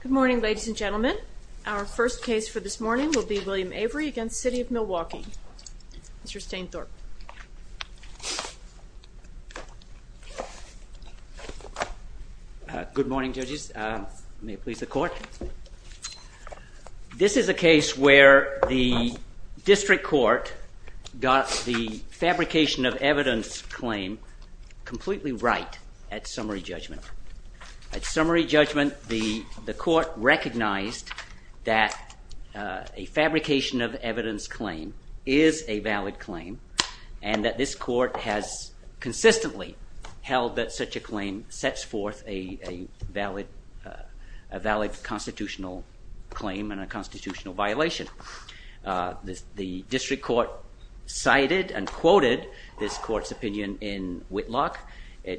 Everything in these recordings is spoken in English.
Good morning ladies and gentlemen. Our first case for this morning will be William Avery against City of Milwaukee. Mr. Stainthorpe. Good morning judges. May it please the court. This is a case where the district court got the fabrication of evidence, but the court recognized that a fabrication of evidence claim is a valid claim and that this court has consistently held that such a claim sets forth a valid constitutional claim and a constitutional violation. The district court cited and quoted this court's opinion in Petty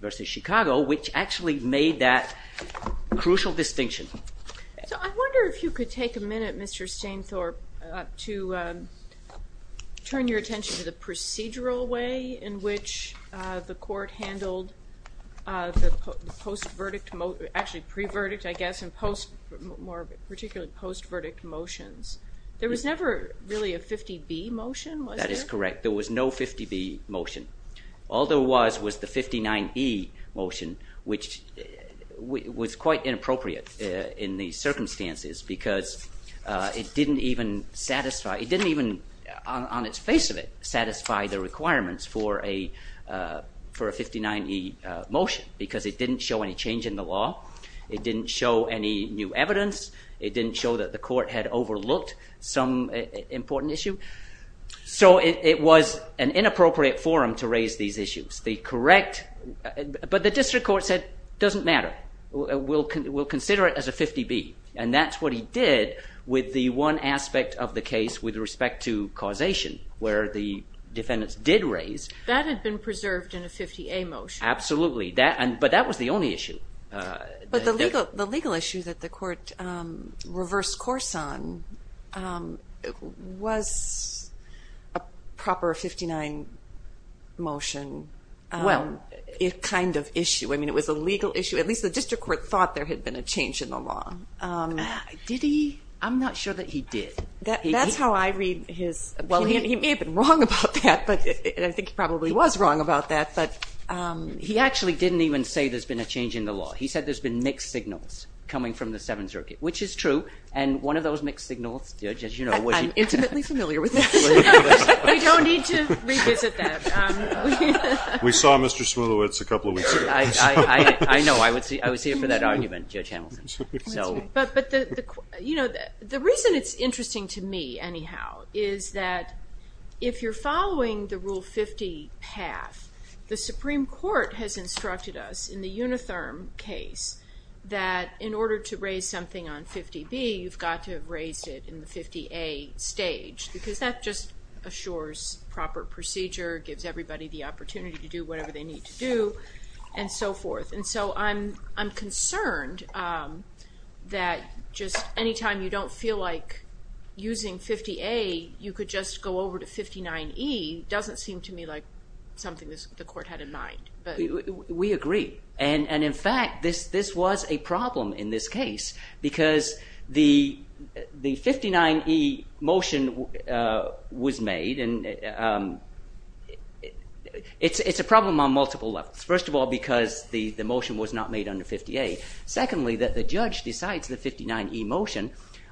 v. Chicago which actually made that crucial distinction. So I wonder if you could take a minute, Mr. Stainthorpe, to turn your attention to the procedural way in which the court handled the post-verdict, actually pre-verdict I guess, and post-verdict motions. There was never really a 50-B motion, was there? That is correct. There was no 50-B motion. All there was was the 59-E motion which was quite inappropriate in these circumstances because it didn't even satisfy, it didn't even, on its face of it, satisfy the requirements for a 59-E motion because it didn't show any change in the law, it didn't show any new evidence, it didn't show that the court had overlooked some important issue. So it was an inappropriate forum to raise these issues. The correct, but the district court said it doesn't matter. We'll consider it as a 50-B and that's what he did with the one aspect of the case with respect to causation where the defendants did raise. That had been preserved in a 50-A motion. Absolutely. But that was the only issue. But the legal issue that the court reversed course on was a proper 59 motion kind of issue. I mean it was a legal issue. At least the district court thought there had been a change in the law. Did he? I'm not sure that he did. That's how I read his opinion. He may have been wrong about that, and I think he probably was wrong about that, but he actually didn't even say there's been a change in the law. He said there's been mixed signals coming from the Seventh Circuit, which is true, and one of those mixed signals, Judge, as you know, was I'm intimately familiar with that. We don't need to revisit that. We saw Mr. Smolowitz a couple of weeks ago. I know, I was here for that argument, Judge Hamilton. But the reason it's interesting to me, anyhow, is that if you're following the Rule 50 path, the Supreme Court has instructed us in the Unitherm case that in order to raise something on 50-B, you've got to have raised it in the 50-A stage, because that just assures proper procedure, gives everybody the opportunity to do whatever they need to do, and so forth. And so I'm concerned that just any time you don't feel like using 50-A, you could just go over to 59-E doesn't seem to me like something the court had in mind. We agree, and in fact, this was a problem in this case because the 59-E motion was made, and it's a problem on multiple levels. First of all, because the motion was not made under 50-A. Secondly, that the judge decides the 59-E motion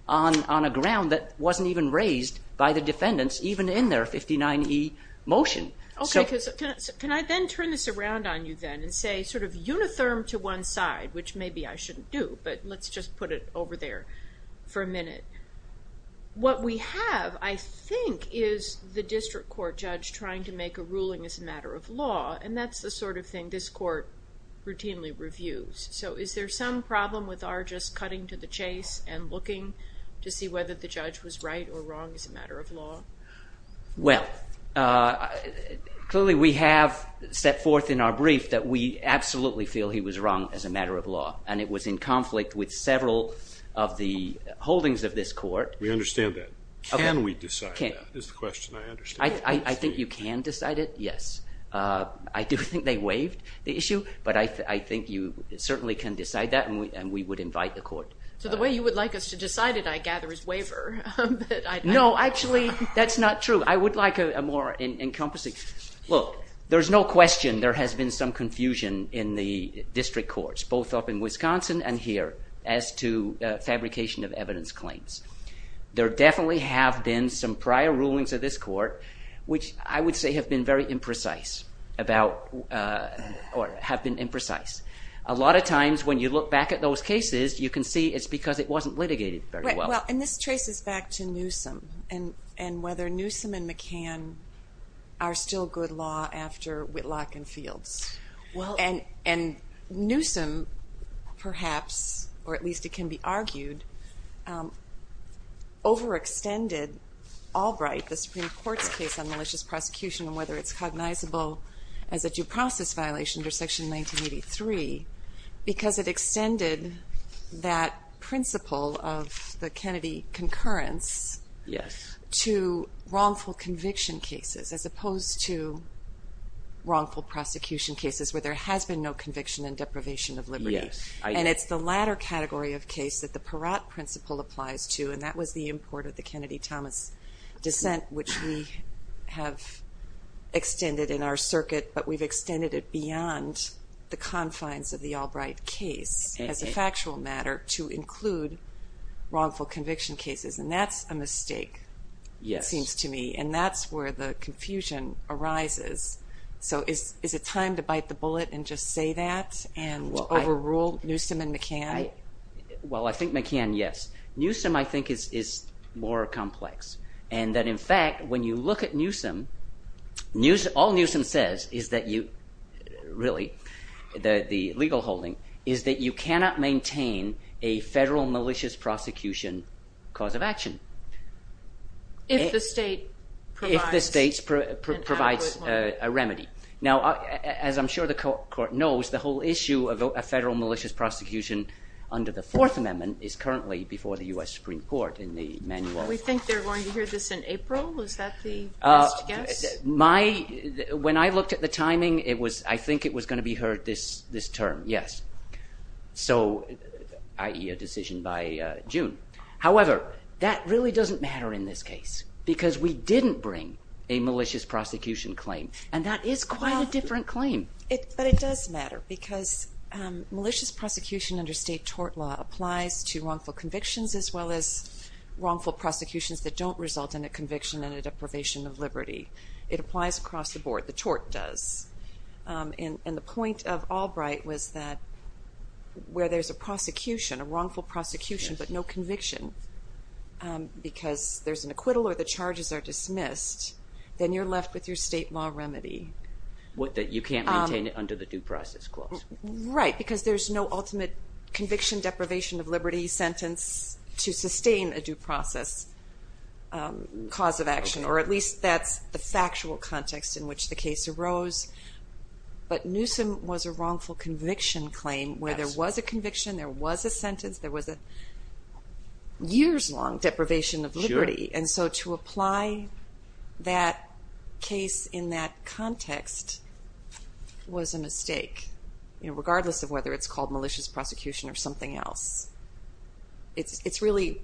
on a ground that wasn't even raised by the defendants even in their 59-E motion. Okay, so can I then turn this around on you then and say sort of Unitherm to one side, which maybe I shouldn't do, but let's just put it over there for a minute. What we have, I think, is the district court judge trying to make a ruling as a matter of law, and that's the sort of thing this court routinely reviews. So is there some problem with our just cutting to the chase and looking to see whether the judge was right or wrong as a matter of law? Well, clearly we have set forth in our brief that we absolutely feel he was wrong as a matter of law, and it was in conflict with several of the holdings of this court. We understand that. Can we decide that is the question I understand. I think you can decide it, yes. I do think they waived the issue, but I think you certainly can decide that, and we would invite the court. So the way you would like us to decide it, I gather, is waiver. No, actually, that's not true. I would like a more encompassing. Look, there's no question there has been some confusion in the district courts, both up in Wisconsin and here, as to fabrication of evidence claims. There definitely have been some prior rulings of this court which I would say have been very imprecise about or have been imprecise. A lot of times when you look back at those cases, you can see it's because it wasn't litigated very well. Well, and this traces back to Newsom and whether Newsom and McCann are still good law after Whitlock and Fields. And Newsom, perhaps, or at least it can be argued, overextended Albright, the Supreme Court's case on malicious prosecution, and whether it's cognizable as a due process violation under Section 1983, because it extended that principle of the Kennedy concurrence to wrongful conviction cases, as opposed to wrongful prosecution cases where there has been no conviction and deprivation of liberty. And it's the latter category of case that the Peratt principle applies to, and that was the import of the Kennedy-Thomas dissent which we have extended in our circuit, but we've extended it beyond the confines of the Albright case as a factual matter to include wrongful conviction cases. And that's a mistake, it seems to me, and that's where the confusion arises. So is it time to bite the bullet and just say that and overrule Newsom and McCann? Well, I think McCann, yes. Newsom, I think, is more complex. And that, in fact, when you look at Newsom, all Newsom says is that you – really, the legal holding – is that you cannot maintain a federal malicious prosecution cause of action. If the state provides an adequate one. If the state provides a remedy. Now, as I'm sure the court knows, the whole issue of a federal malicious prosecution under the Fourth Amendment is currently before the U.S. Supreme Court in the manual. We think they're going to hear this in April. Is that the best guess? My – when I looked at the timing, it was – I think it was going to be heard this term, yes. So – i.e., a decision by June. However, that really doesn't matter in this case because we didn't bring a malicious prosecution claim, and that is quite a different claim. But it does matter because malicious prosecution under state tort law applies to wrongful convictions as well as wrongful prosecutions that don't result in a conviction and a deprivation of liberty. It applies across the board. The tort does. And the point of Albright was that where there's a prosecution, a wrongful prosecution but no conviction because there's an acquittal or the charges are dismissed, then you're left with your state law remedy. What, that you can't maintain it under the due process clause? Right, because there's no ultimate conviction, deprivation of liberty sentence to sustain a due process cause of action, or at least that's the factual context in which the case arose. But Newsom was a wrongful conviction claim where there was a conviction, there was a sentence, there was a years-long deprivation of liberty. And so to apply that case in that context was a mistake, regardless of whether it's called malicious prosecution or something else. It's really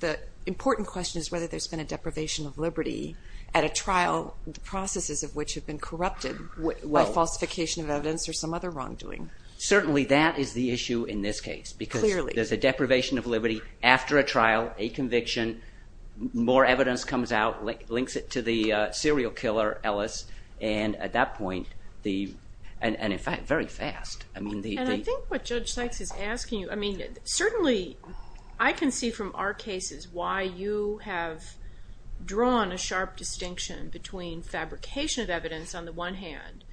the important question is whether there's been a deprivation of liberty at a trial, the processes of which have been corrupted by falsification of evidence or some other wrongdoing. Certainly that is the issue in this case because there's a deprivation of liberty after a trial, a conviction, more evidence comes out, links it to the serial killer, Ellis, and at that point the, and in fact very fast. And I think what Judge Sykes is asking you, I mean certainly I can see from our cases why you have drawn a sharp distinction between fabrication of evidence on the one hand,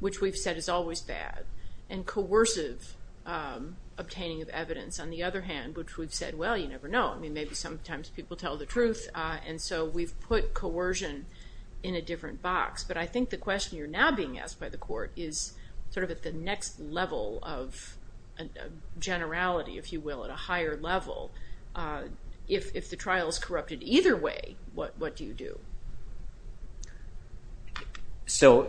which we've said is always bad, and coercive obtaining of evidence on the other hand, which we've said, well, you never know. I mean maybe sometimes people tell the truth and so we've put coercion in a different box. But I think the question you're now being asked by the court is sort of at the next level of generality, if you will, at a higher level. If the trial is corrupted either way, what do you do? So,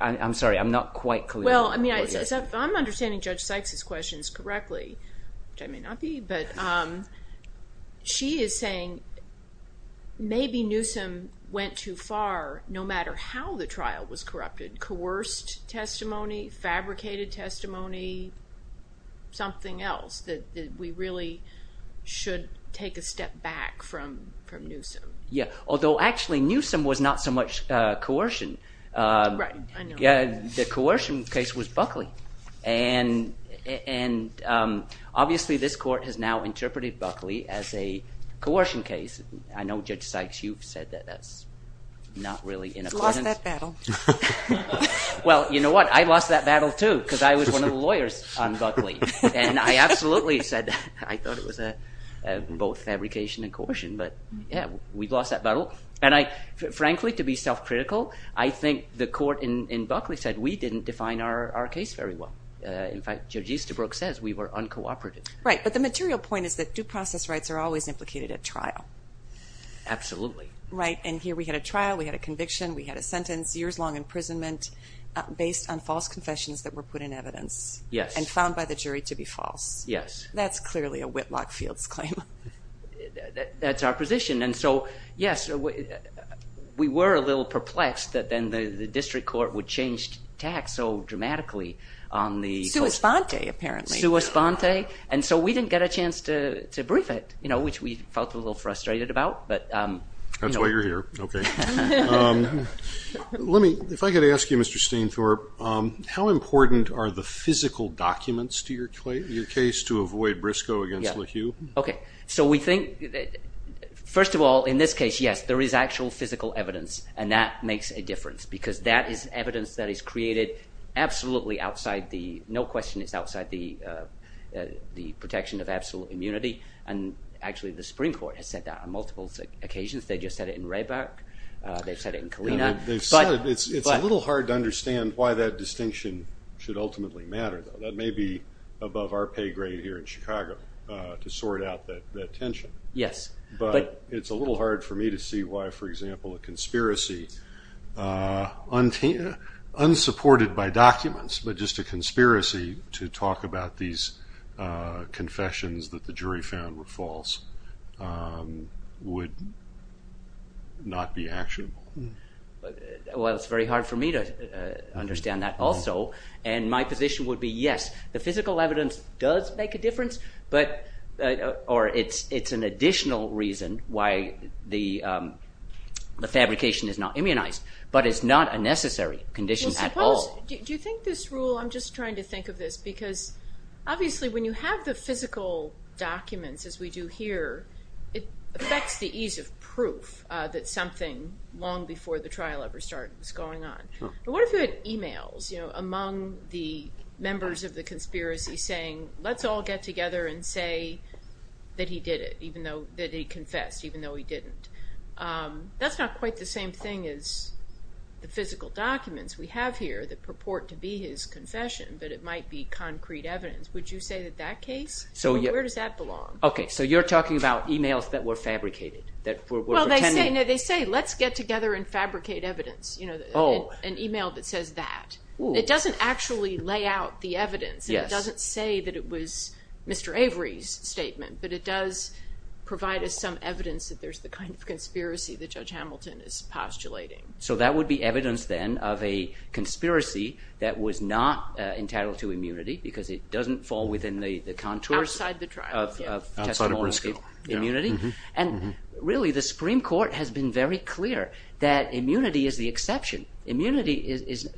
I'm sorry, I'm not quite clear. Well, I mean I'm understanding Judge Sykes' questions correctly, which I may not be, but she is saying maybe Newsom went too far no matter how the trial was corrupted. Coerced testimony, fabricated testimony, something else that we really should take a step back from Newsom. Yeah, although actually Newsom was not so much coercion. Right, I know. Yeah, the coercion case was Buckley and obviously this court has now interpreted Buckley as a coercion case. I know Judge Sykes, you've said that that's not really in accordance. We've lost that battle. Well, you know what, I've lost that battle too because I was one of the lawyers on Buckley and I absolutely said I thought it was both fabrication and coercion, but yeah, we've lost that battle. Frankly, to be self-critical, I think the court in Buckley said we didn't define our case very well. In fact, Judge Easterbrook says we were uncooperative. Right, but the material point is that due process rights are always implicated at trial. Absolutely. Right, and here we had a trial, we had a conviction, we had a sentence, years-long imprisonment based on false confessions that were put in evidence and found by the jury to be false. Yes. That's clearly a Whitlock Fields claim. That's our position, and so, yes, we were a little perplexed that then the district court would change tact so dramatically on the court. Sua sponte, apparently. Sua sponte, and so we didn't get a chance to brief it, which we felt a little frustrated about. That's why you're here, okay. Let me, if I could ask you, Mr. Stainthorpe, how important are the physical documents to your case to avoid Briscoe against LaHue? Okay, so we think, first of all, in this case, yes, there is actual physical evidence, and that makes a difference because that is evidence that is created absolutely outside the, no question, it's outside the protection of absolute immunity, and actually the Supreme Court has said that on multiple occasions. They just said it in Raybuck. They've said it in Kalina. They've said it. It's a little hard to understand why that distinction should ultimately matter, though. That may be above our pay grade here in Chicago to sort out that tension. Yes. But it's a little hard for me to see why, for example, a conspiracy unsupported by documents, but just a conspiracy to talk about these confessions that the jury found were false would not be actionable. Well, it's very hard for me to understand that also, and my position would be yes, the physical evidence does make a difference, or it's an additional reason why the fabrication is not immunized, but it's not a necessary condition at all. Well, suppose, do you think this rule, I'm just trying to think of this, because obviously when you have the physical documents as we do here, it affects the ease of proof that something long before the trial ever started was going on. But what if you had e-mails among the members of the conspiracy saying, let's all get together and say that he did it, that he confessed, even though he didn't? That's not quite the same thing as the physical documents we have here that purport to be his confession, but it might be concrete evidence. Would you say that that case, where does that belong? Okay, so you're talking about e-mails that were fabricated? Well, they say, let's get together and fabricate evidence, an e-mail that says that. It doesn't actually lay out the evidence. It doesn't say that it was Mr. Avery's statement, but it does provide us some evidence that there's the kind of conspiracy that Judge Hamilton is postulating. So that would be evidence then of a conspiracy that was not entitled to immunity, because it doesn't fall within the contours of testimonial immunity. And really, the Supreme Court has been very clear that immunity is the exception. Immunity is,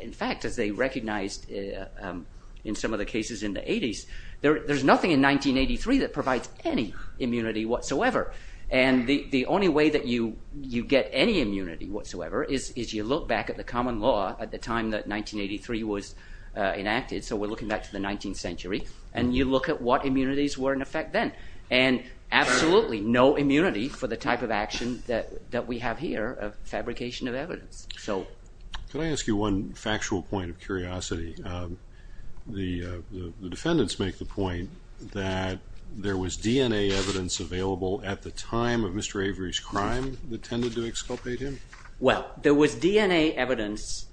in fact, as they recognized in some of the cases in the 80s, there's nothing in 1983 that provides any immunity whatsoever. And the only way that you get any immunity whatsoever is you look back at the common law at the time that 1983 was enacted. So we're looking back to the 19th century, and you look at what immunities were in effect then. And absolutely no immunity for the type of action that we have here of fabrication of evidence. Can I ask you one factual point of curiosity? The defendants make the point that there was DNA evidence available at the time of Mr. Avery's crime that tended to exculpate him. Well, there was DNA evidence.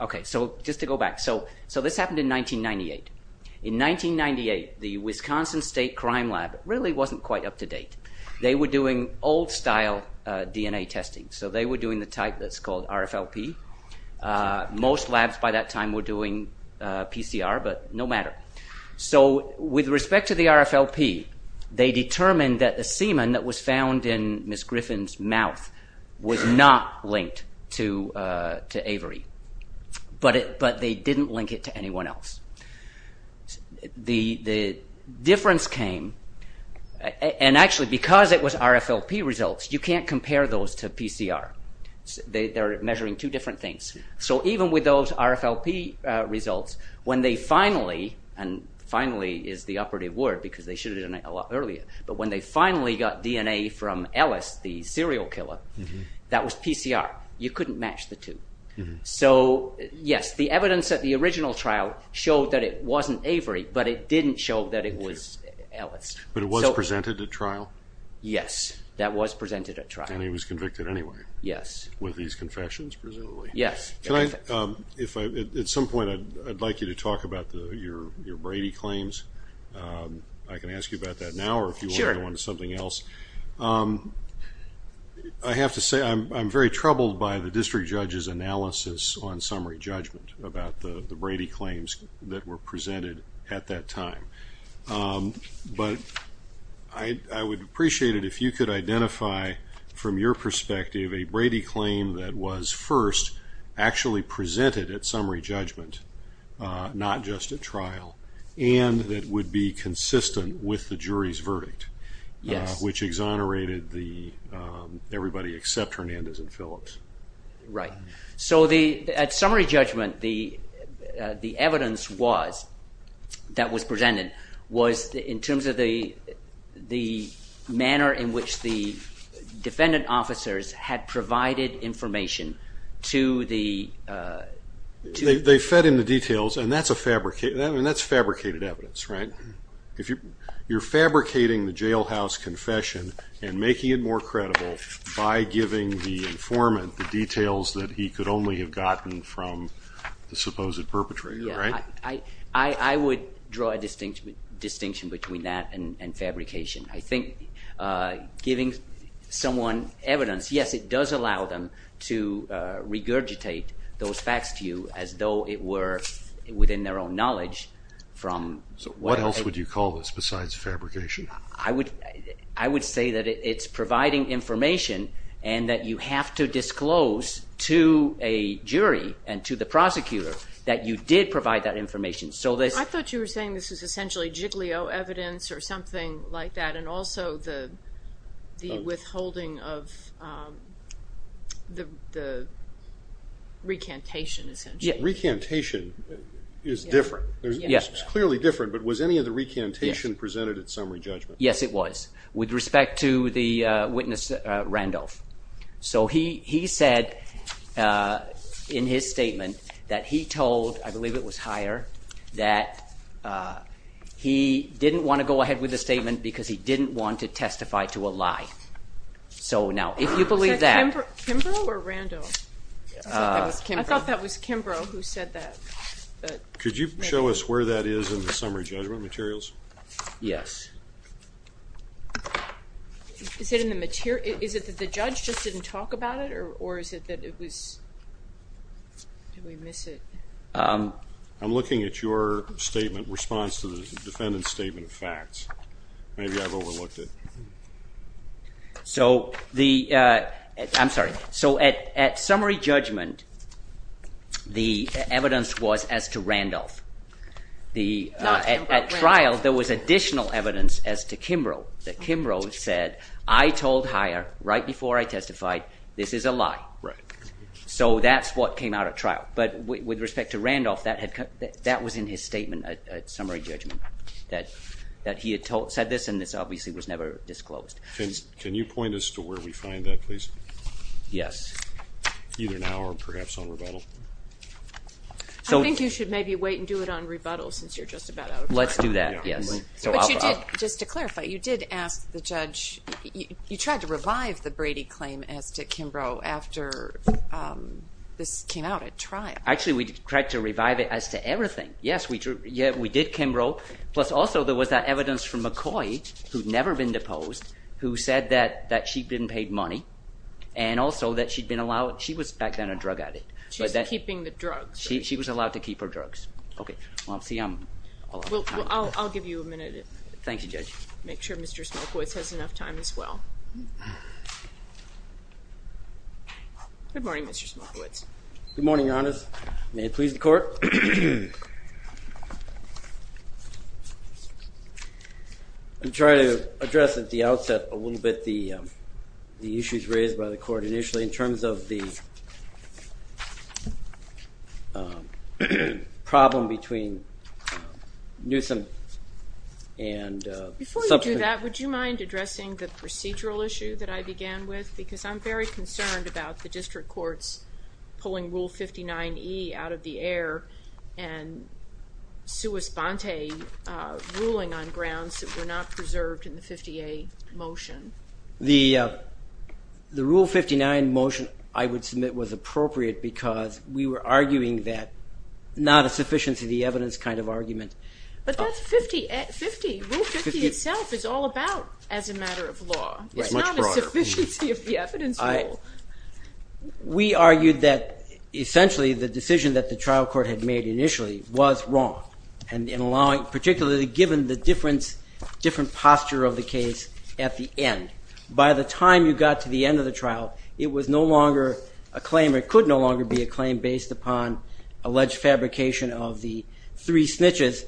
Okay, so just to go back. So this happened in 1998. In 1998, the Wisconsin State Crime Lab really wasn't quite up to date. They were doing old-style DNA testing. So they were doing the type that's called RFLP. Most labs by that time were doing PCR, but no matter. So with respect to the RFLP, they determined that the semen that was found in Ms. Griffin's mouth was not linked to Avery. But they didn't link it to anyone else. The difference came, and actually because it was RFLP results, you can't compare those to PCR. They're measuring two different things. So even with those RFLP results, when they finally, and finally is the operative word because they should have done it a lot earlier, but when they finally got DNA from Ellis, the serial killer, that was PCR. You couldn't match the two. So yes, the evidence at the original trial showed that it wasn't Avery, but it didn't show that it was Ellis. But it was presented at trial? Yes, that was presented at trial. And he was convicted anyway? Yes. With these confessions presumably? Yes. At some point I'd like you to talk about your Brady claims. I can ask you about that now or if you want to go on to something else. I have to say I'm very troubled by the district judge's analysis on summary judgment about the Brady claims that were presented at that time. But I would appreciate it if you could identify from your perspective a Brady claim that was first actually presented at summary judgment, not just at trial, and that would be consistent with the jury's verdict, which exonerated everybody except Hernandez and Phillips. Right. So at summary judgment, the evidence that was presented was in terms of the manner in which the defendant officers had provided information to the… They fed in the details, and that's fabricated evidence, right? You're fabricating the jailhouse confession and making it more credible by giving the informant the details that he could only have gotten from the supposed perpetrator, right? Yes. I would draw a distinction between that and fabrication. I think giving someone evidence, yes, it does allow them to regurgitate those facts to you as though it were within their own knowledge from… So what else would you call this besides fabrication? I would say that it's providing information and that you have to disclose to a jury and to the prosecutor that you did provide that information. I thought you were saying this is essentially jigglio evidence or something like that, and also the withholding of the recantation, essentially. Recantation is different. Yes. It's clearly different, but was any of the recantation presented at summary judgment? Yes, it was, with respect to the witness Randolph. So he said in his statement that he told, I believe it was Heyer, that he didn't want to go ahead with the statement because he didn't want to testify to a lie. So now, if you believe that… Was that Kimbrough or Randolph? I thought that was Kimbrough. Kimbrough, who said that. Could you show us where that is in the summary judgment materials? Yes. Is it that the judge just didn't talk about it, or is it that it was… Did we miss it? I'm looking at your statement, response to the defendant's statement of facts. Maybe I've overlooked it. I'm sorry. So at summary judgment, the evidence was as to Randolph. At trial, there was additional evidence as to Kimbrough, that Kimbrough said, I told Heyer right before I testified, this is a lie. Right. So that's what came out at trial. But with respect to Randolph, that was in his statement at summary judgment, that he had said this, and this obviously was never disclosed. Can you point us to where we find that, please? Yes. Either now or perhaps on rebuttal. I think you should maybe wait and do it on rebuttal since you're just about out of time. Let's do that, yes. Just to clarify, you did ask the judge – you tried to revive the Brady claim as to Kimbrough after this came out at trial. Actually, we tried to revive it as to everything. Yes, we did Kimbrough. Plus also there was that evidence from McCoy, who'd never been deposed, who said that she didn't pay money, and also that she'd been allowed – she was back then a drug addict. She was keeping the drugs. She was allowed to keep her drugs. I'll give you a minute. Thank you, Judge. Make sure Mr. Smokewoods has enough time as well. Good morning, Mr. Smokewoods. Good morning, Your Honors. May it please the Court. I'm trying to address at the outset a little bit the issues raised by the Court initially in terms of the problem between Newsom and – Before you do that, would you mind addressing the procedural issue that I began with? Because I'm very concerned about the district courts pulling Rule 59E out of the air and Suess-Bonte ruling on grounds that were not preserved in the 50A motion. The Rule 59 motion, I would submit, was appropriate because we were arguing that not a sufficiency of the evidence kind of argument. But that's 50 – Rule 50 itself is all about as a matter of law. It's not a sufficiency of the evidence rule. We argued that essentially the decision that the trial court had made initially was wrong, particularly given the different posture of the case at the end. By the time you got to the end of the trial, it was no longer a claim or it could no longer be a claim based upon alleged fabrication of the three snitches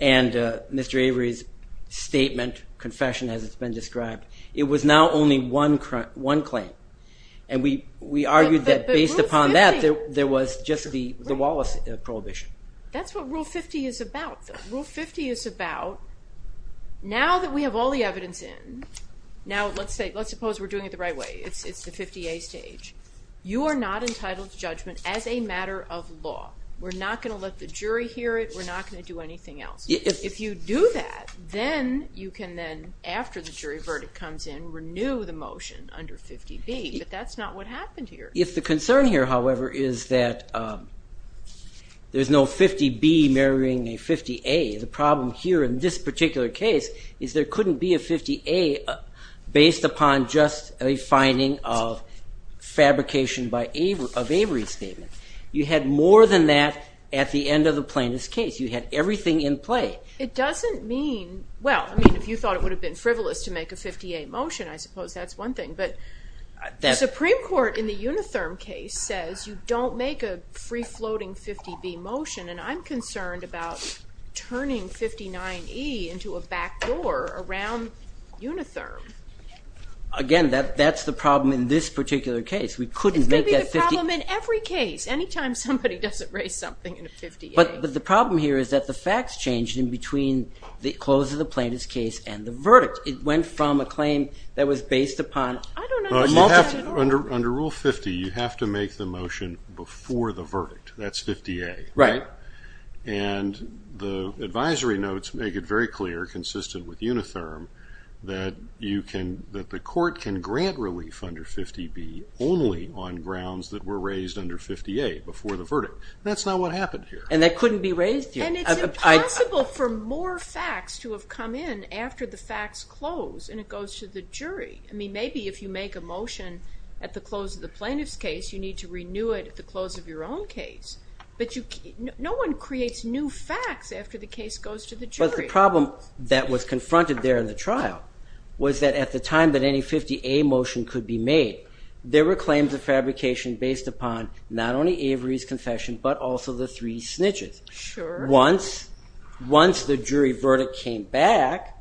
and Mr. Avery's statement, confession, as it's been described. It was now only one claim. And we argued that based upon that, there was just the Wallace prohibition. That's what Rule 50 is about, though. Rule 50 is about now that we have all the evidence in, now let's suppose we're doing it the right way. It's the 50A stage. You are not entitled to judgment as a matter of law. We're not going to let the jury hear it. We're not going to do anything else. If you do that, then you can then, after the jury verdict comes in, renew the motion under 50B. But that's not what happened here. If the concern here, however, is that there's no 50B marrying a 50A, the problem here in this particular case is there couldn't be a 50A based upon just a finding of fabrication of Avery's statement. You had more than that at the end of the plaintiff's case. You had everything in play. It doesn't mean, well, I mean, if you thought it would have been frivolous to make a 50A motion, I suppose that's one thing. But the Supreme Court in the Unitherm case says you don't make a free-floating 50B motion, and I'm concerned about turning 59E into a backdoor around Unitherm. Again, that's the problem in this particular case. We couldn't make that 50A. It's going to be a problem in every case. Any time somebody doesn't raise something in a 50A. But the problem here is that the facts changed in between the close of the plaintiff's case and the verdict. It went from a claim that was based upon multiple- Under Rule 50, you have to make the motion before the verdict. That's 50A. Right. And the advisory notes make it very clear, consistent with Unitherm, that the court can grant relief under 50B only on grounds that were raised under 50A before the verdict. That's not what happened here. And that couldn't be raised here. And it's impossible for more facts to have come in after the facts close and it goes to the jury. I mean, maybe if you make a motion at the close of the plaintiff's case, you need to renew it at the close of your own case. But no one creates new facts after the case goes to the jury. But the problem that was confronted there in the trial was that at the time that any 50A motion could be made, there were claims of fabrication based upon not only Avery's confession but also the three snitches. Once the jury verdict came back,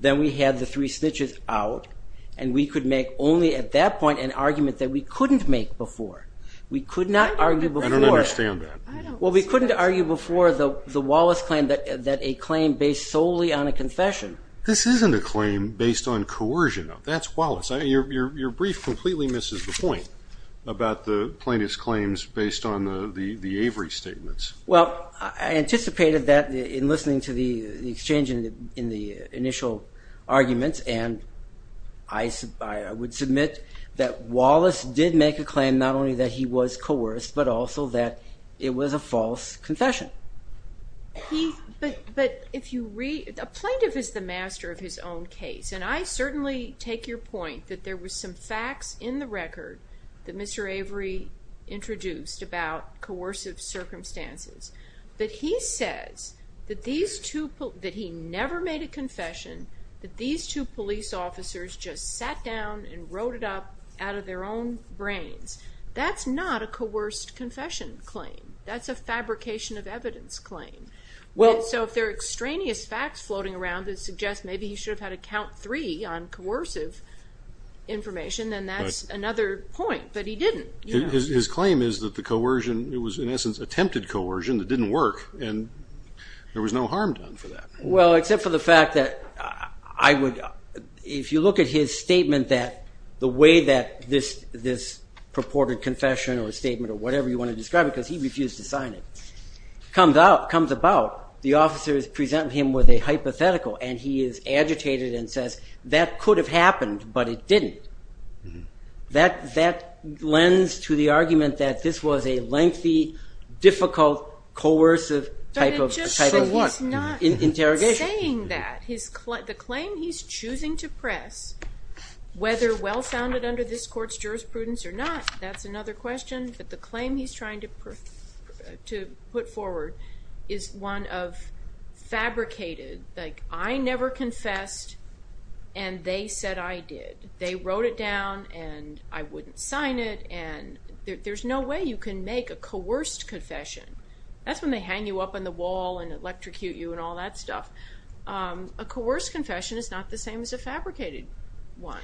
then we had the three snitches out, and we could make only at that point an argument that we couldn't make before. We could not argue before. I don't understand that. Well, we couldn't argue before the Wallace claim that a claim based solely on a confession. This isn't a claim based on coercion. That's Wallace. Your brief completely misses the point about the plaintiff's claims based on the Avery statements. Well, I anticipated that in listening to the exchange in the initial arguments, and I would submit that Wallace did make a claim not only that he was coerced but also that it was a false confession. But a plaintiff is the master of his own case, and I certainly take your point that there was some facts in the record that Mr. Avery introduced about coercive circumstances. But he says that he never made a confession, that these two police officers just sat down and wrote it up out of their own brains. That's not a coerced confession claim. That's a fabrication of evidence claim. So if there are extraneous facts floating around that suggest maybe he should have had a count three on coercive information, then that's another point, but he didn't. His claim is that the coercion, it was in essence attempted coercion that didn't work, and there was no harm done for that. Well, except for the fact that if you look at his statement that the way that this purported confession or statement or whatever you want to describe it, because he refused to sign it, comes about, the officers present him with a hypothetical, and he is agitated and says, that could have happened, but it didn't. That lends to the argument that this was a lengthy, difficult, coercive type of interrogation. But it's just that he's not saying that. The claim he's choosing to press, whether well-founded under this court's jurisprudence or not, that's another question, but the claim he's trying to put forward is one of fabricated, like, I never confessed, and they said I did. They wrote it down, and I wouldn't sign it, and there's no way you can make a coerced confession. That's when they hang you up on the wall and electrocute you and all that stuff. A coerced confession is not the same as a fabricated one.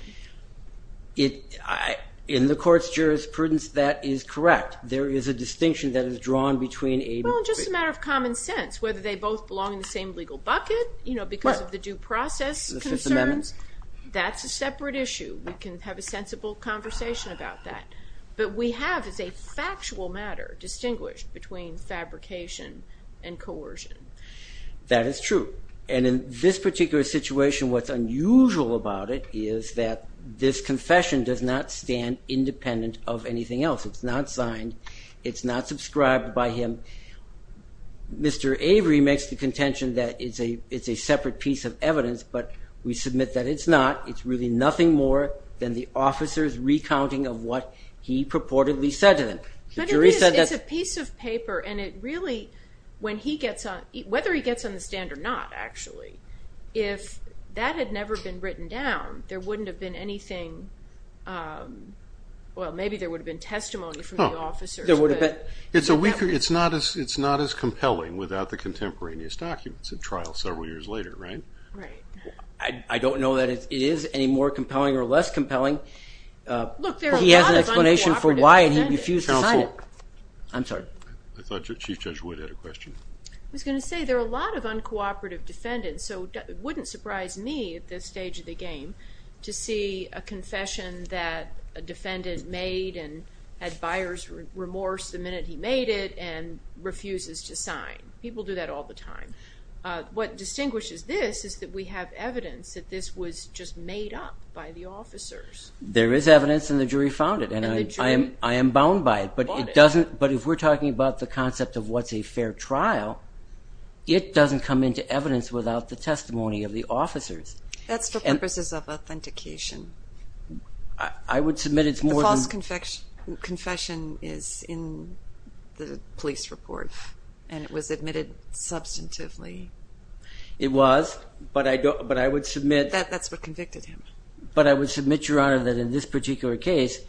In the court's jurisprudence, that is correct. There is a distinction that is drawn between a... because of the due process concerns. That's a separate issue. We can have a sensible conversation about that. But we have, as a factual matter, distinguished between fabrication and coercion. That is true. And in this particular situation, what's unusual about it is that this confession does not stand independent of anything else. It's not signed. It's not subscribed by him. Mr. Avery makes the contention that it's a separate piece of evidence, but we submit that it's not. It's really nothing more than the officer's recounting of what he purportedly said to them. It's a piece of paper, and it really, when he gets on, whether he gets on the stand or not, actually, if that had never been written down, there wouldn't have been anything. Well, maybe there would have been testimony from the officers. It's not as compelling without the contemporaneous documents at trial several years later, right? Right. I don't know that it is any more compelling or less compelling. Look, there are a lot of uncooperative defendants. He has an explanation for why, and he refused to sign it. Counsel. I'm sorry. I thought Chief Judge Wood had a question. I was going to say, there are a lot of uncooperative defendants, so it wouldn't surprise me at this stage of the game to see a confession that a defendant made and had buyer's remorse the minute he made it and refuses to sign. People do that all the time. What distinguishes this is that we have evidence that this was just made up by the officers. There is evidence, and the jury found it, and I am bound by it. But if we're talking about the concept of what's a fair trial, it doesn't come into evidence without the testimony of the officers. That's for purposes of authentication. I would submit it's more than... The false confession is in the police report, and it was admitted substantively. It was, but I would submit... That's what convicted him. But I would submit, Your Honor, that in this particular case,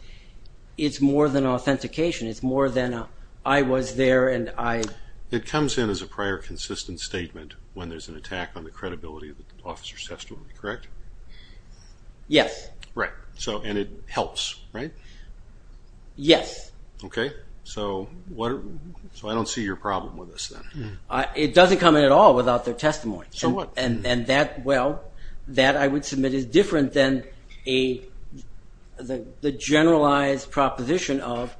it's more than authentication. It's more than I was there and I... It comes in as a prior consistent statement when there's an attack on the credibility of the officer's testimony, correct? Yes. Right. And it helps, right? Yes. Okay. So I don't see your problem with this then. It doesn't come in at all without their testimony. So what? And that, well, that I would submit is different than the generalized proposition of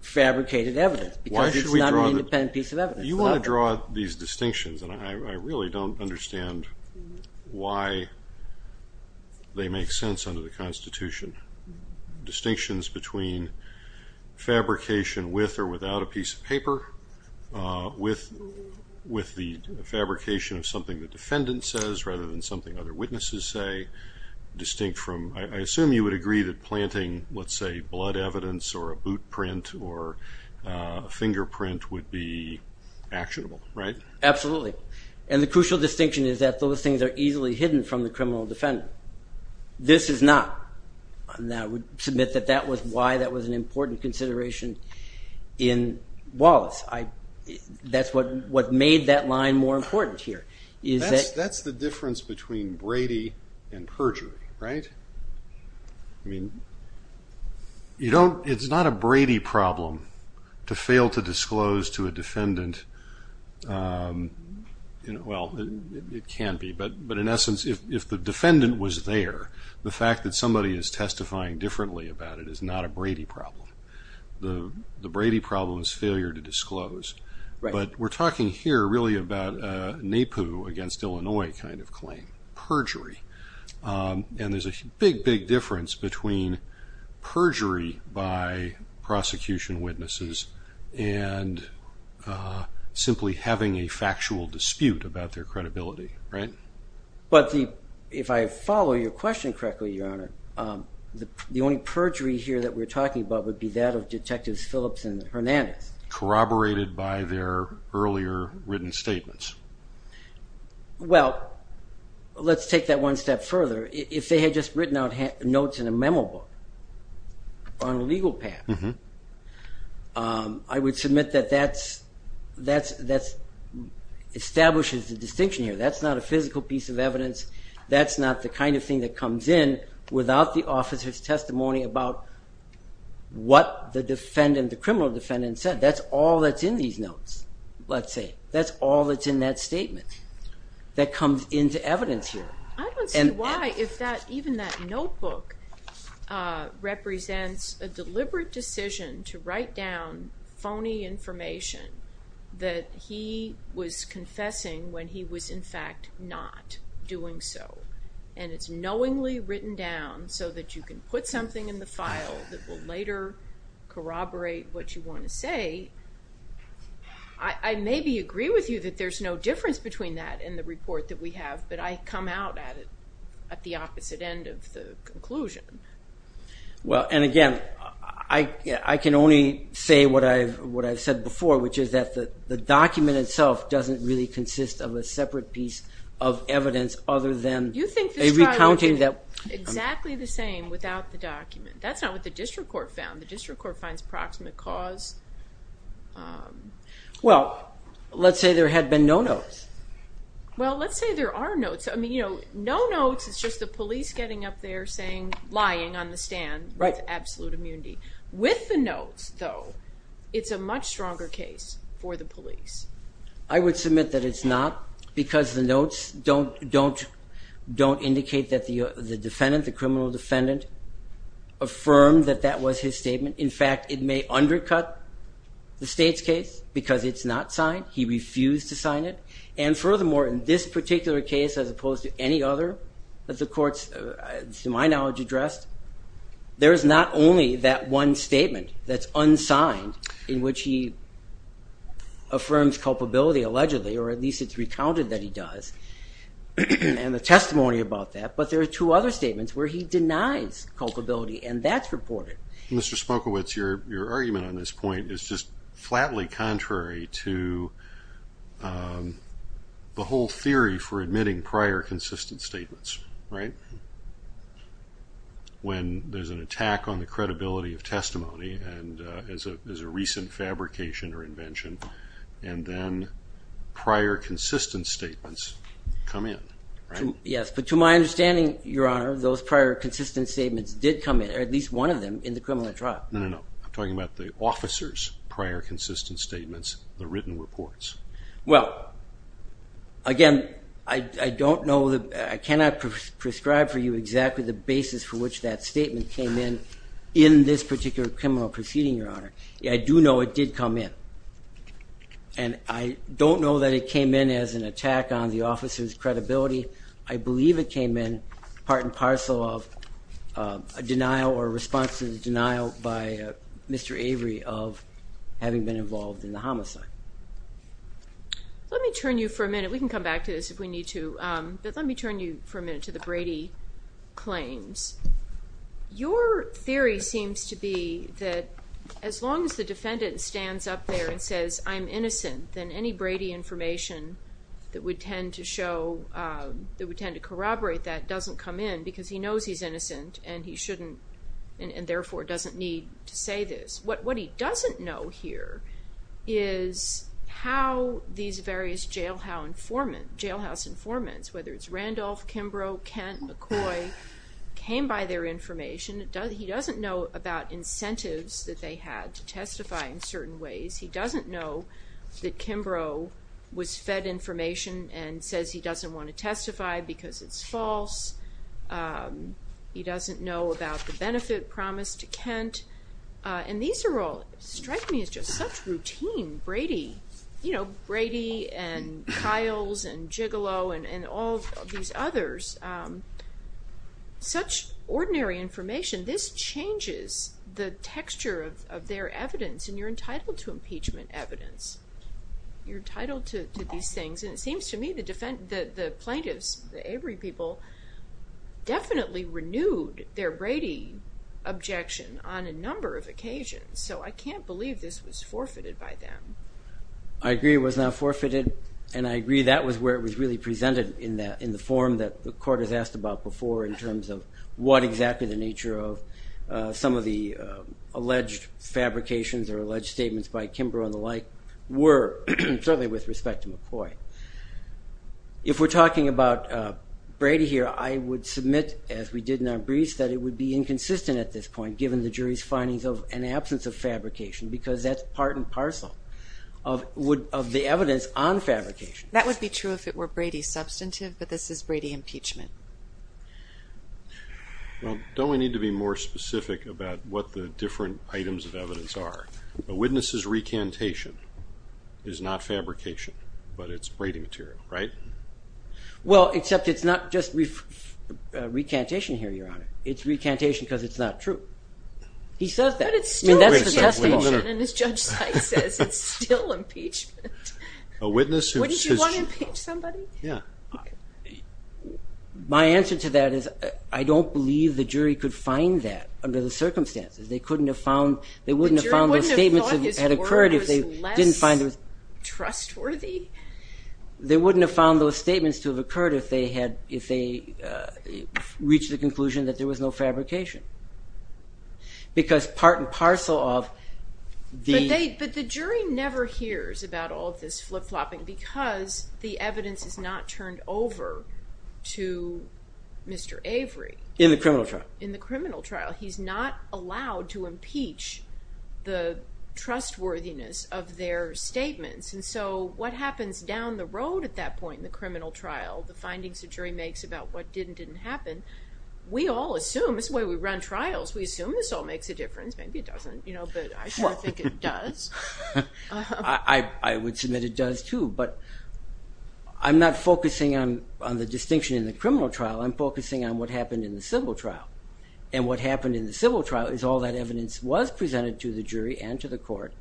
fabricated evidence. Because it's not an independent piece of evidence. You want to draw these distinctions, and I really don't understand why they make sense under the Constitution. Distinctions between fabrication with or without a piece of paper, with the fabrication of something the defendant says rather than something other witnesses say, distinct from... I assume you would agree that planting, let's say, blood evidence or a boot print or a fingerprint would be actionable, right? Absolutely. And the crucial distinction is that those things are easily hidden from the criminal defendant. This is not. And I would submit that that was why that was an important consideration in Wallace. That's what made that line more important here. That's the difference between Brady and perjury, right? I mean, it's not a Brady problem to fail to disclose to a defendant. Well, it can be, but in essence, if the defendant was there, the fact that somebody is testifying differently about it is not a Brady problem. The Brady problem is failure to disclose. But we're talking here really about a NAPU against Illinois kind of claim, perjury. And there's a big, big difference between perjury by prosecution witnesses and simply having a factual dispute about their credibility, right? But if I follow your question correctly, Your Honor, the only perjury here that we're talking about would be that of Detectives Phillips and Hernandez. Corroborated by their earlier written statements. Well, let's take that one step further. If they had just written out notes in a memo book on a legal path, I would submit that that establishes the distinction here. That's not a physical piece of evidence. That's not the kind of thing that comes in without the officer's testimony about what the defendant, the criminal defendant, said. That's all that's in these notes, let's say. That's all that's in that statement. That comes into evidence here. I don't see why, if even that notebook represents a deliberate decision to write down phony information that he was confessing when he was in fact not doing so. And it's knowingly written down so that you can put something in the file that will later corroborate what you want to say. I maybe agree with you that there's no difference between that and the report that we have, but I come out at it at the opposite end of the conclusion. Well, and again, I can only say what I've said before, which is that the document itself doesn't really consist of a separate piece of evidence other than a recounting that... You think this trial would be exactly the same without the document. That's not what the district court found. The district court finds proximate cause. Well, let's say there had been no notes. Well, let's say there are notes. I mean, no notes is just the police getting up there lying on the stand with absolute immunity. I would submit that it's not because the notes don't indicate that the defendant, the criminal defendant, affirmed that that was his statement. In fact, it may undercut the state's case because it's not signed. He refused to sign it. And furthermore, in this particular case as opposed to any other that the courts, to my knowledge, addressed, there is not only that one statement that's unsigned in which he affirms culpability, allegedly, or at least it's recounted that he does and the testimony about that, but there are two other statements where he denies culpability, and that's reported. Mr. Smokowicz, your argument on this point is just flatly contrary to the whole theory for admitting prior consistent statements, right? When there's an attack on the credibility of testimony and there's a recent fabrication or invention and then prior consistent statements come in, right? Yes, but to my understanding, Your Honor, those prior consistent statements did come in, or at least one of them, in the criminal trial. No, no, no. I'm talking about the officer's prior consistent statements, the written reports. Well, again, I don't know, I cannot prescribe for you exactly the basis for which that statement came in in this particular criminal proceeding, Your Honor. I do know it did come in. And I don't know that it came in as an attack on the officer's credibility. I believe it came in part and parcel of a denial or response to the denial by Mr. Avery of having been involved in the homicide. Let me turn you for a minute, we can come back to this if we need to, but let me turn you for a minute to the Brady claims. Your theory seems to be that as long as the defendant stands up there and says, I'm innocent, then any Brady information that would tend to show, that would tend to corroborate that doesn't come in because he knows he's innocent and he shouldn't and therefore doesn't need to say this. What he doesn't know here is how these various jailhouse informants, whether it's Randolph, Kimbrough, Kent, McCoy, came by their information. He doesn't know about incentives that they had to testify in certain ways. He doesn't know that Kimbrough was fed information and says he doesn't want to testify because it's false. He doesn't know about the benefit promised to Kent. And these are all, strike me as just such routine Brady, you know, Brady and Kiles and Gigolo and all these others, such ordinary information, this changes the texture of their evidence and you're entitled to impeachment evidence. You're entitled to these things and it seems to me the plaintiffs, the Avery people, definitely renewed their Brady objection on a number of occasions. So I can't believe this was forfeited by them. I agree it was not forfeited and I agree that was where it was really presented in the form that the court has asked about before in terms of what exactly the nature of some of the alleged fabrications or alleged statements by Kimbrough and the like were, certainly with respect to McCoy. If we're talking about Brady here, I would submit, as we did in our briefs, that it would be inconsistent at this point given the jury's findings of an absence of fabrication because that's part and parcel of the evidence on fabrication. That would be true if it were Brady substantive, but this is Brady impeachment. Well, don't we need to be more specific about what the different items of evidence are? A witness's recantation is not fabrication, but it's Brady material, right? Well, except it's not just recantation here, Your Honor. It's recantation because it's not true. He says that. But it's still recantation, and as Judge Sykes says, it's still impeachment. What, did you want to impeach somebody? Yeah. My answer to that is I don't believe the jury could find that under the circumstances. They wouldn't have found those statements to have occurred if they didn't find it. The jury wouldn't have thought his word was less trustworthy. They wouldn't have found those statements to have occurred if they reached the conclusion that there was no fabrication because part and parcel of the... But the jury never hears about all of this flip-flopping because the evidence is not turned over to Mr. Avery. In the criminal trial. He's not allowed to impeach the trustworthiness of their statements. And so what happens down the road at that point in the criminal trial, the findings the jury makes about what did and didn't happen, we all assume, this is the way we run trials, we assume this all makes a difference. Maybe it doesn't, but I think it does. I would submit it does, too. But I'm not focusing on the distinction in the criminal trial. I'm focusing on what happened in the civil trial. And what happened in the civil trial is all that evidence was presented to the jury and to the court.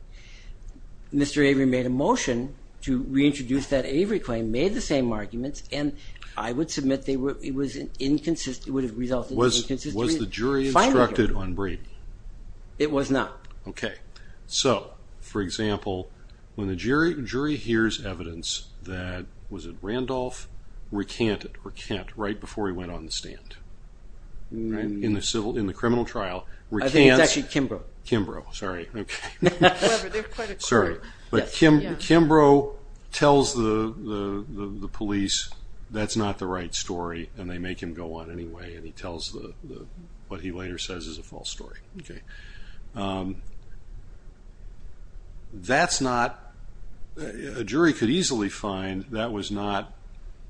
Mr. Avery made a motion to reintroduce that Avery claim, made the same arguments, and I would submit it would have resulted in inconsistency. Was the jury instructed on Brady? It was not. Okay. So, for example, when the jury hears evidence that, was it Randolph, recanted, recant, right before he went on the stand. In the criminal trial, recants. I think it's actually Kimbrough. Kimbrough. Sorry. Sorry. But Kimbrough tells the police that's not the right story, and they make him go on anyway, and he tells what he later says is a false story. Okay. That's not, a jury could easily find that was not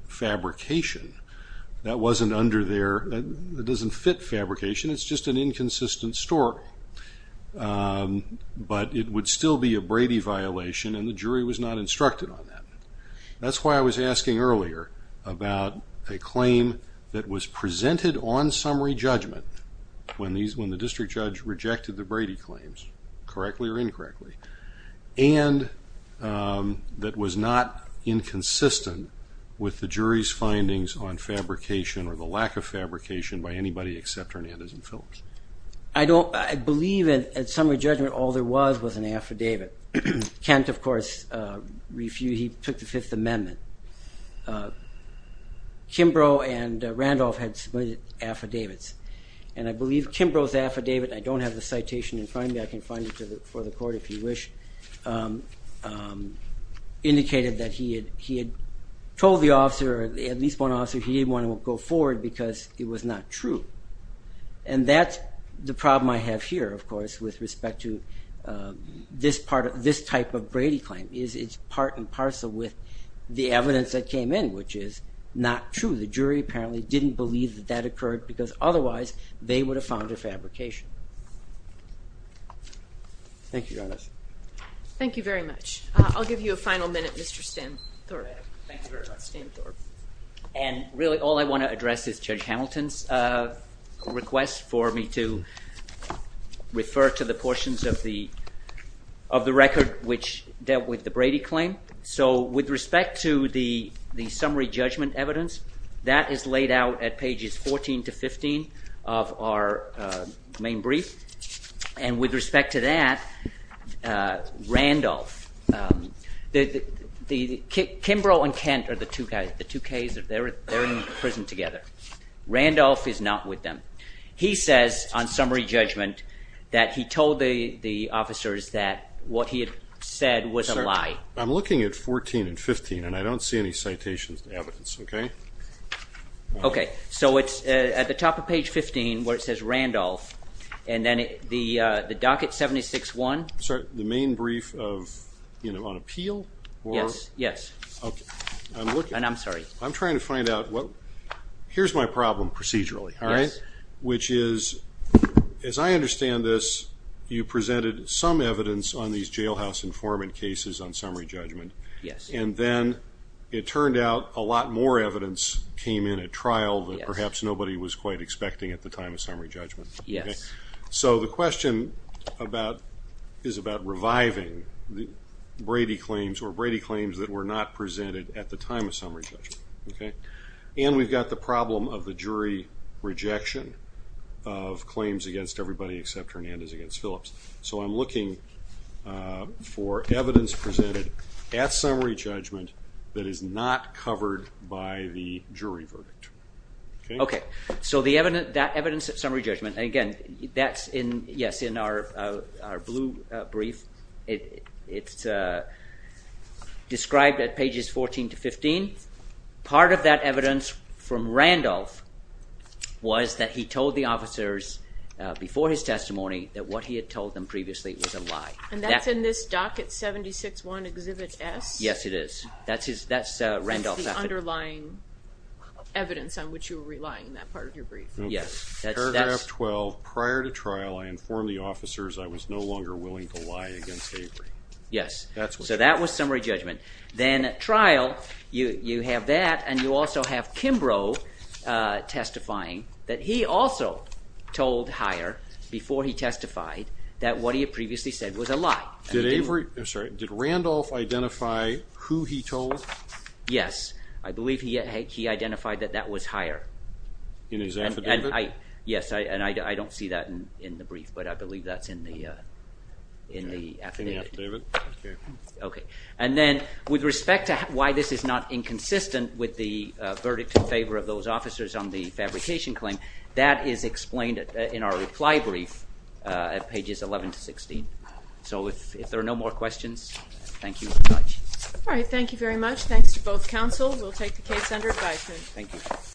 fabrication. That wasn't under their, it doesn't fit fabrication. It's just an inconsistent story. But it would still be a Brady violation, and the jury was not instructed on that. That's why I was asking earlier about a claim that was presented on summary judgment when the district judge rejected the Brady claims, correctly or incorrectly, and that was not inconsistent with the jury's findings on fabrication or the lack of fabrication by anybody except Hernandez and Phillips. I believe at summary judgment all there was was an affidavit. Kent, of course, refused. He took the Fifth Amendment. Kimbrough and Randolph had submitted affidavits, and I believe Kimbrough's affidavit, I don't have the citation in front of me, I can find it for the court if you wish, indicated that he had told the officer, at least one officer, he didn't want to go forward because it was not true. And that's the problem I have here, of course, with respect to this type of Brady claim, is it's part and parcel with the evidence that came in, which is not true. The jury apparently didn't believe that that occurred because otherwise they would have found a fabrication. Thank you, Your Honor. Thank you very much. I'll give you a final minute, Mr. Stamthorpe. Thank you very much, Mr. Stamthorpe. And really all I want to address is Judge Hamilton's request for me to refer to the portions of the record which dealt with the Brady claim. So with respect to the summary judgment evidence, that is laid out at pages 14 to 15 of our main brief. And with respect to that, Randolph, Kimbrough and Kent are the two Ks, they're in prison together. Randolph is not with them. He says on summary judgment that he told the officers that what he had said was a lie. I'm looking at 14 and 15, and I don't see any citations of evidence, okay? Okay. So it's at the top of page 15 where it says Randolph, and then the docket 76-1. Sorry, the main brief on appeal? Yes, yes. Okay. And I'm sorry. I'm trying to find out what... Here's my problem procedurally, all right? Yes. Which is, as I understand this, you presented some evidence on these jailhouse informant cases on summary judgment. Yes. And then it turned out a lot more evidence came in at trial that perhaps nobody was quite expecting at the time of summary judgment. Yes. So the question is about reviving Brady claims or Brady claims that were not presented at the time of summary judgment, okay? And we've got the problem of the jury rejection of claims against everybody except Hernandez against Phillips. So I'm looking for evidence presented at summary judgment that is not covered by the jury verdict, okay? Okay. So that evidence at summary judgment, again, that's in our blue brief. It's described at pages 14 to 15. Part of that evidence from Randolph was that he told the officers before his testimony that what he had told them previously was a lie. And that's in this docket 76-1, Exhibit S? Yes, it is. That's Randolph's affidavit. That's the underlying evidence on which you were relying in that part of your brief. Yes. Paragraph 12, prior to trial, I informed the officers I was no longer willing to lie against Avery. Yes. So that was summary judgment. Then at trial, you have that, and you also have Kimbrough testifying that he also told Heyer before he testified that what he had previously said was a lie. Did Avery? I'm sorry. Did Randolph identify who he told? Yes. I believe he identified that that was Heyer. In his affidavit? Yes, and I don't see that in the brief, but I believe that's in the affidavit. In the affidavit? Okay. And then with respect to why this is not inconsistent with the verdict in favor of those officers on the fabrication claim, that is explained in our reply brief at pages 11 to 16. So if there are no more questions, thank you very much. All right. Thank you very much. Thanks to both counsel. We'll take the case under advisement. Thank you.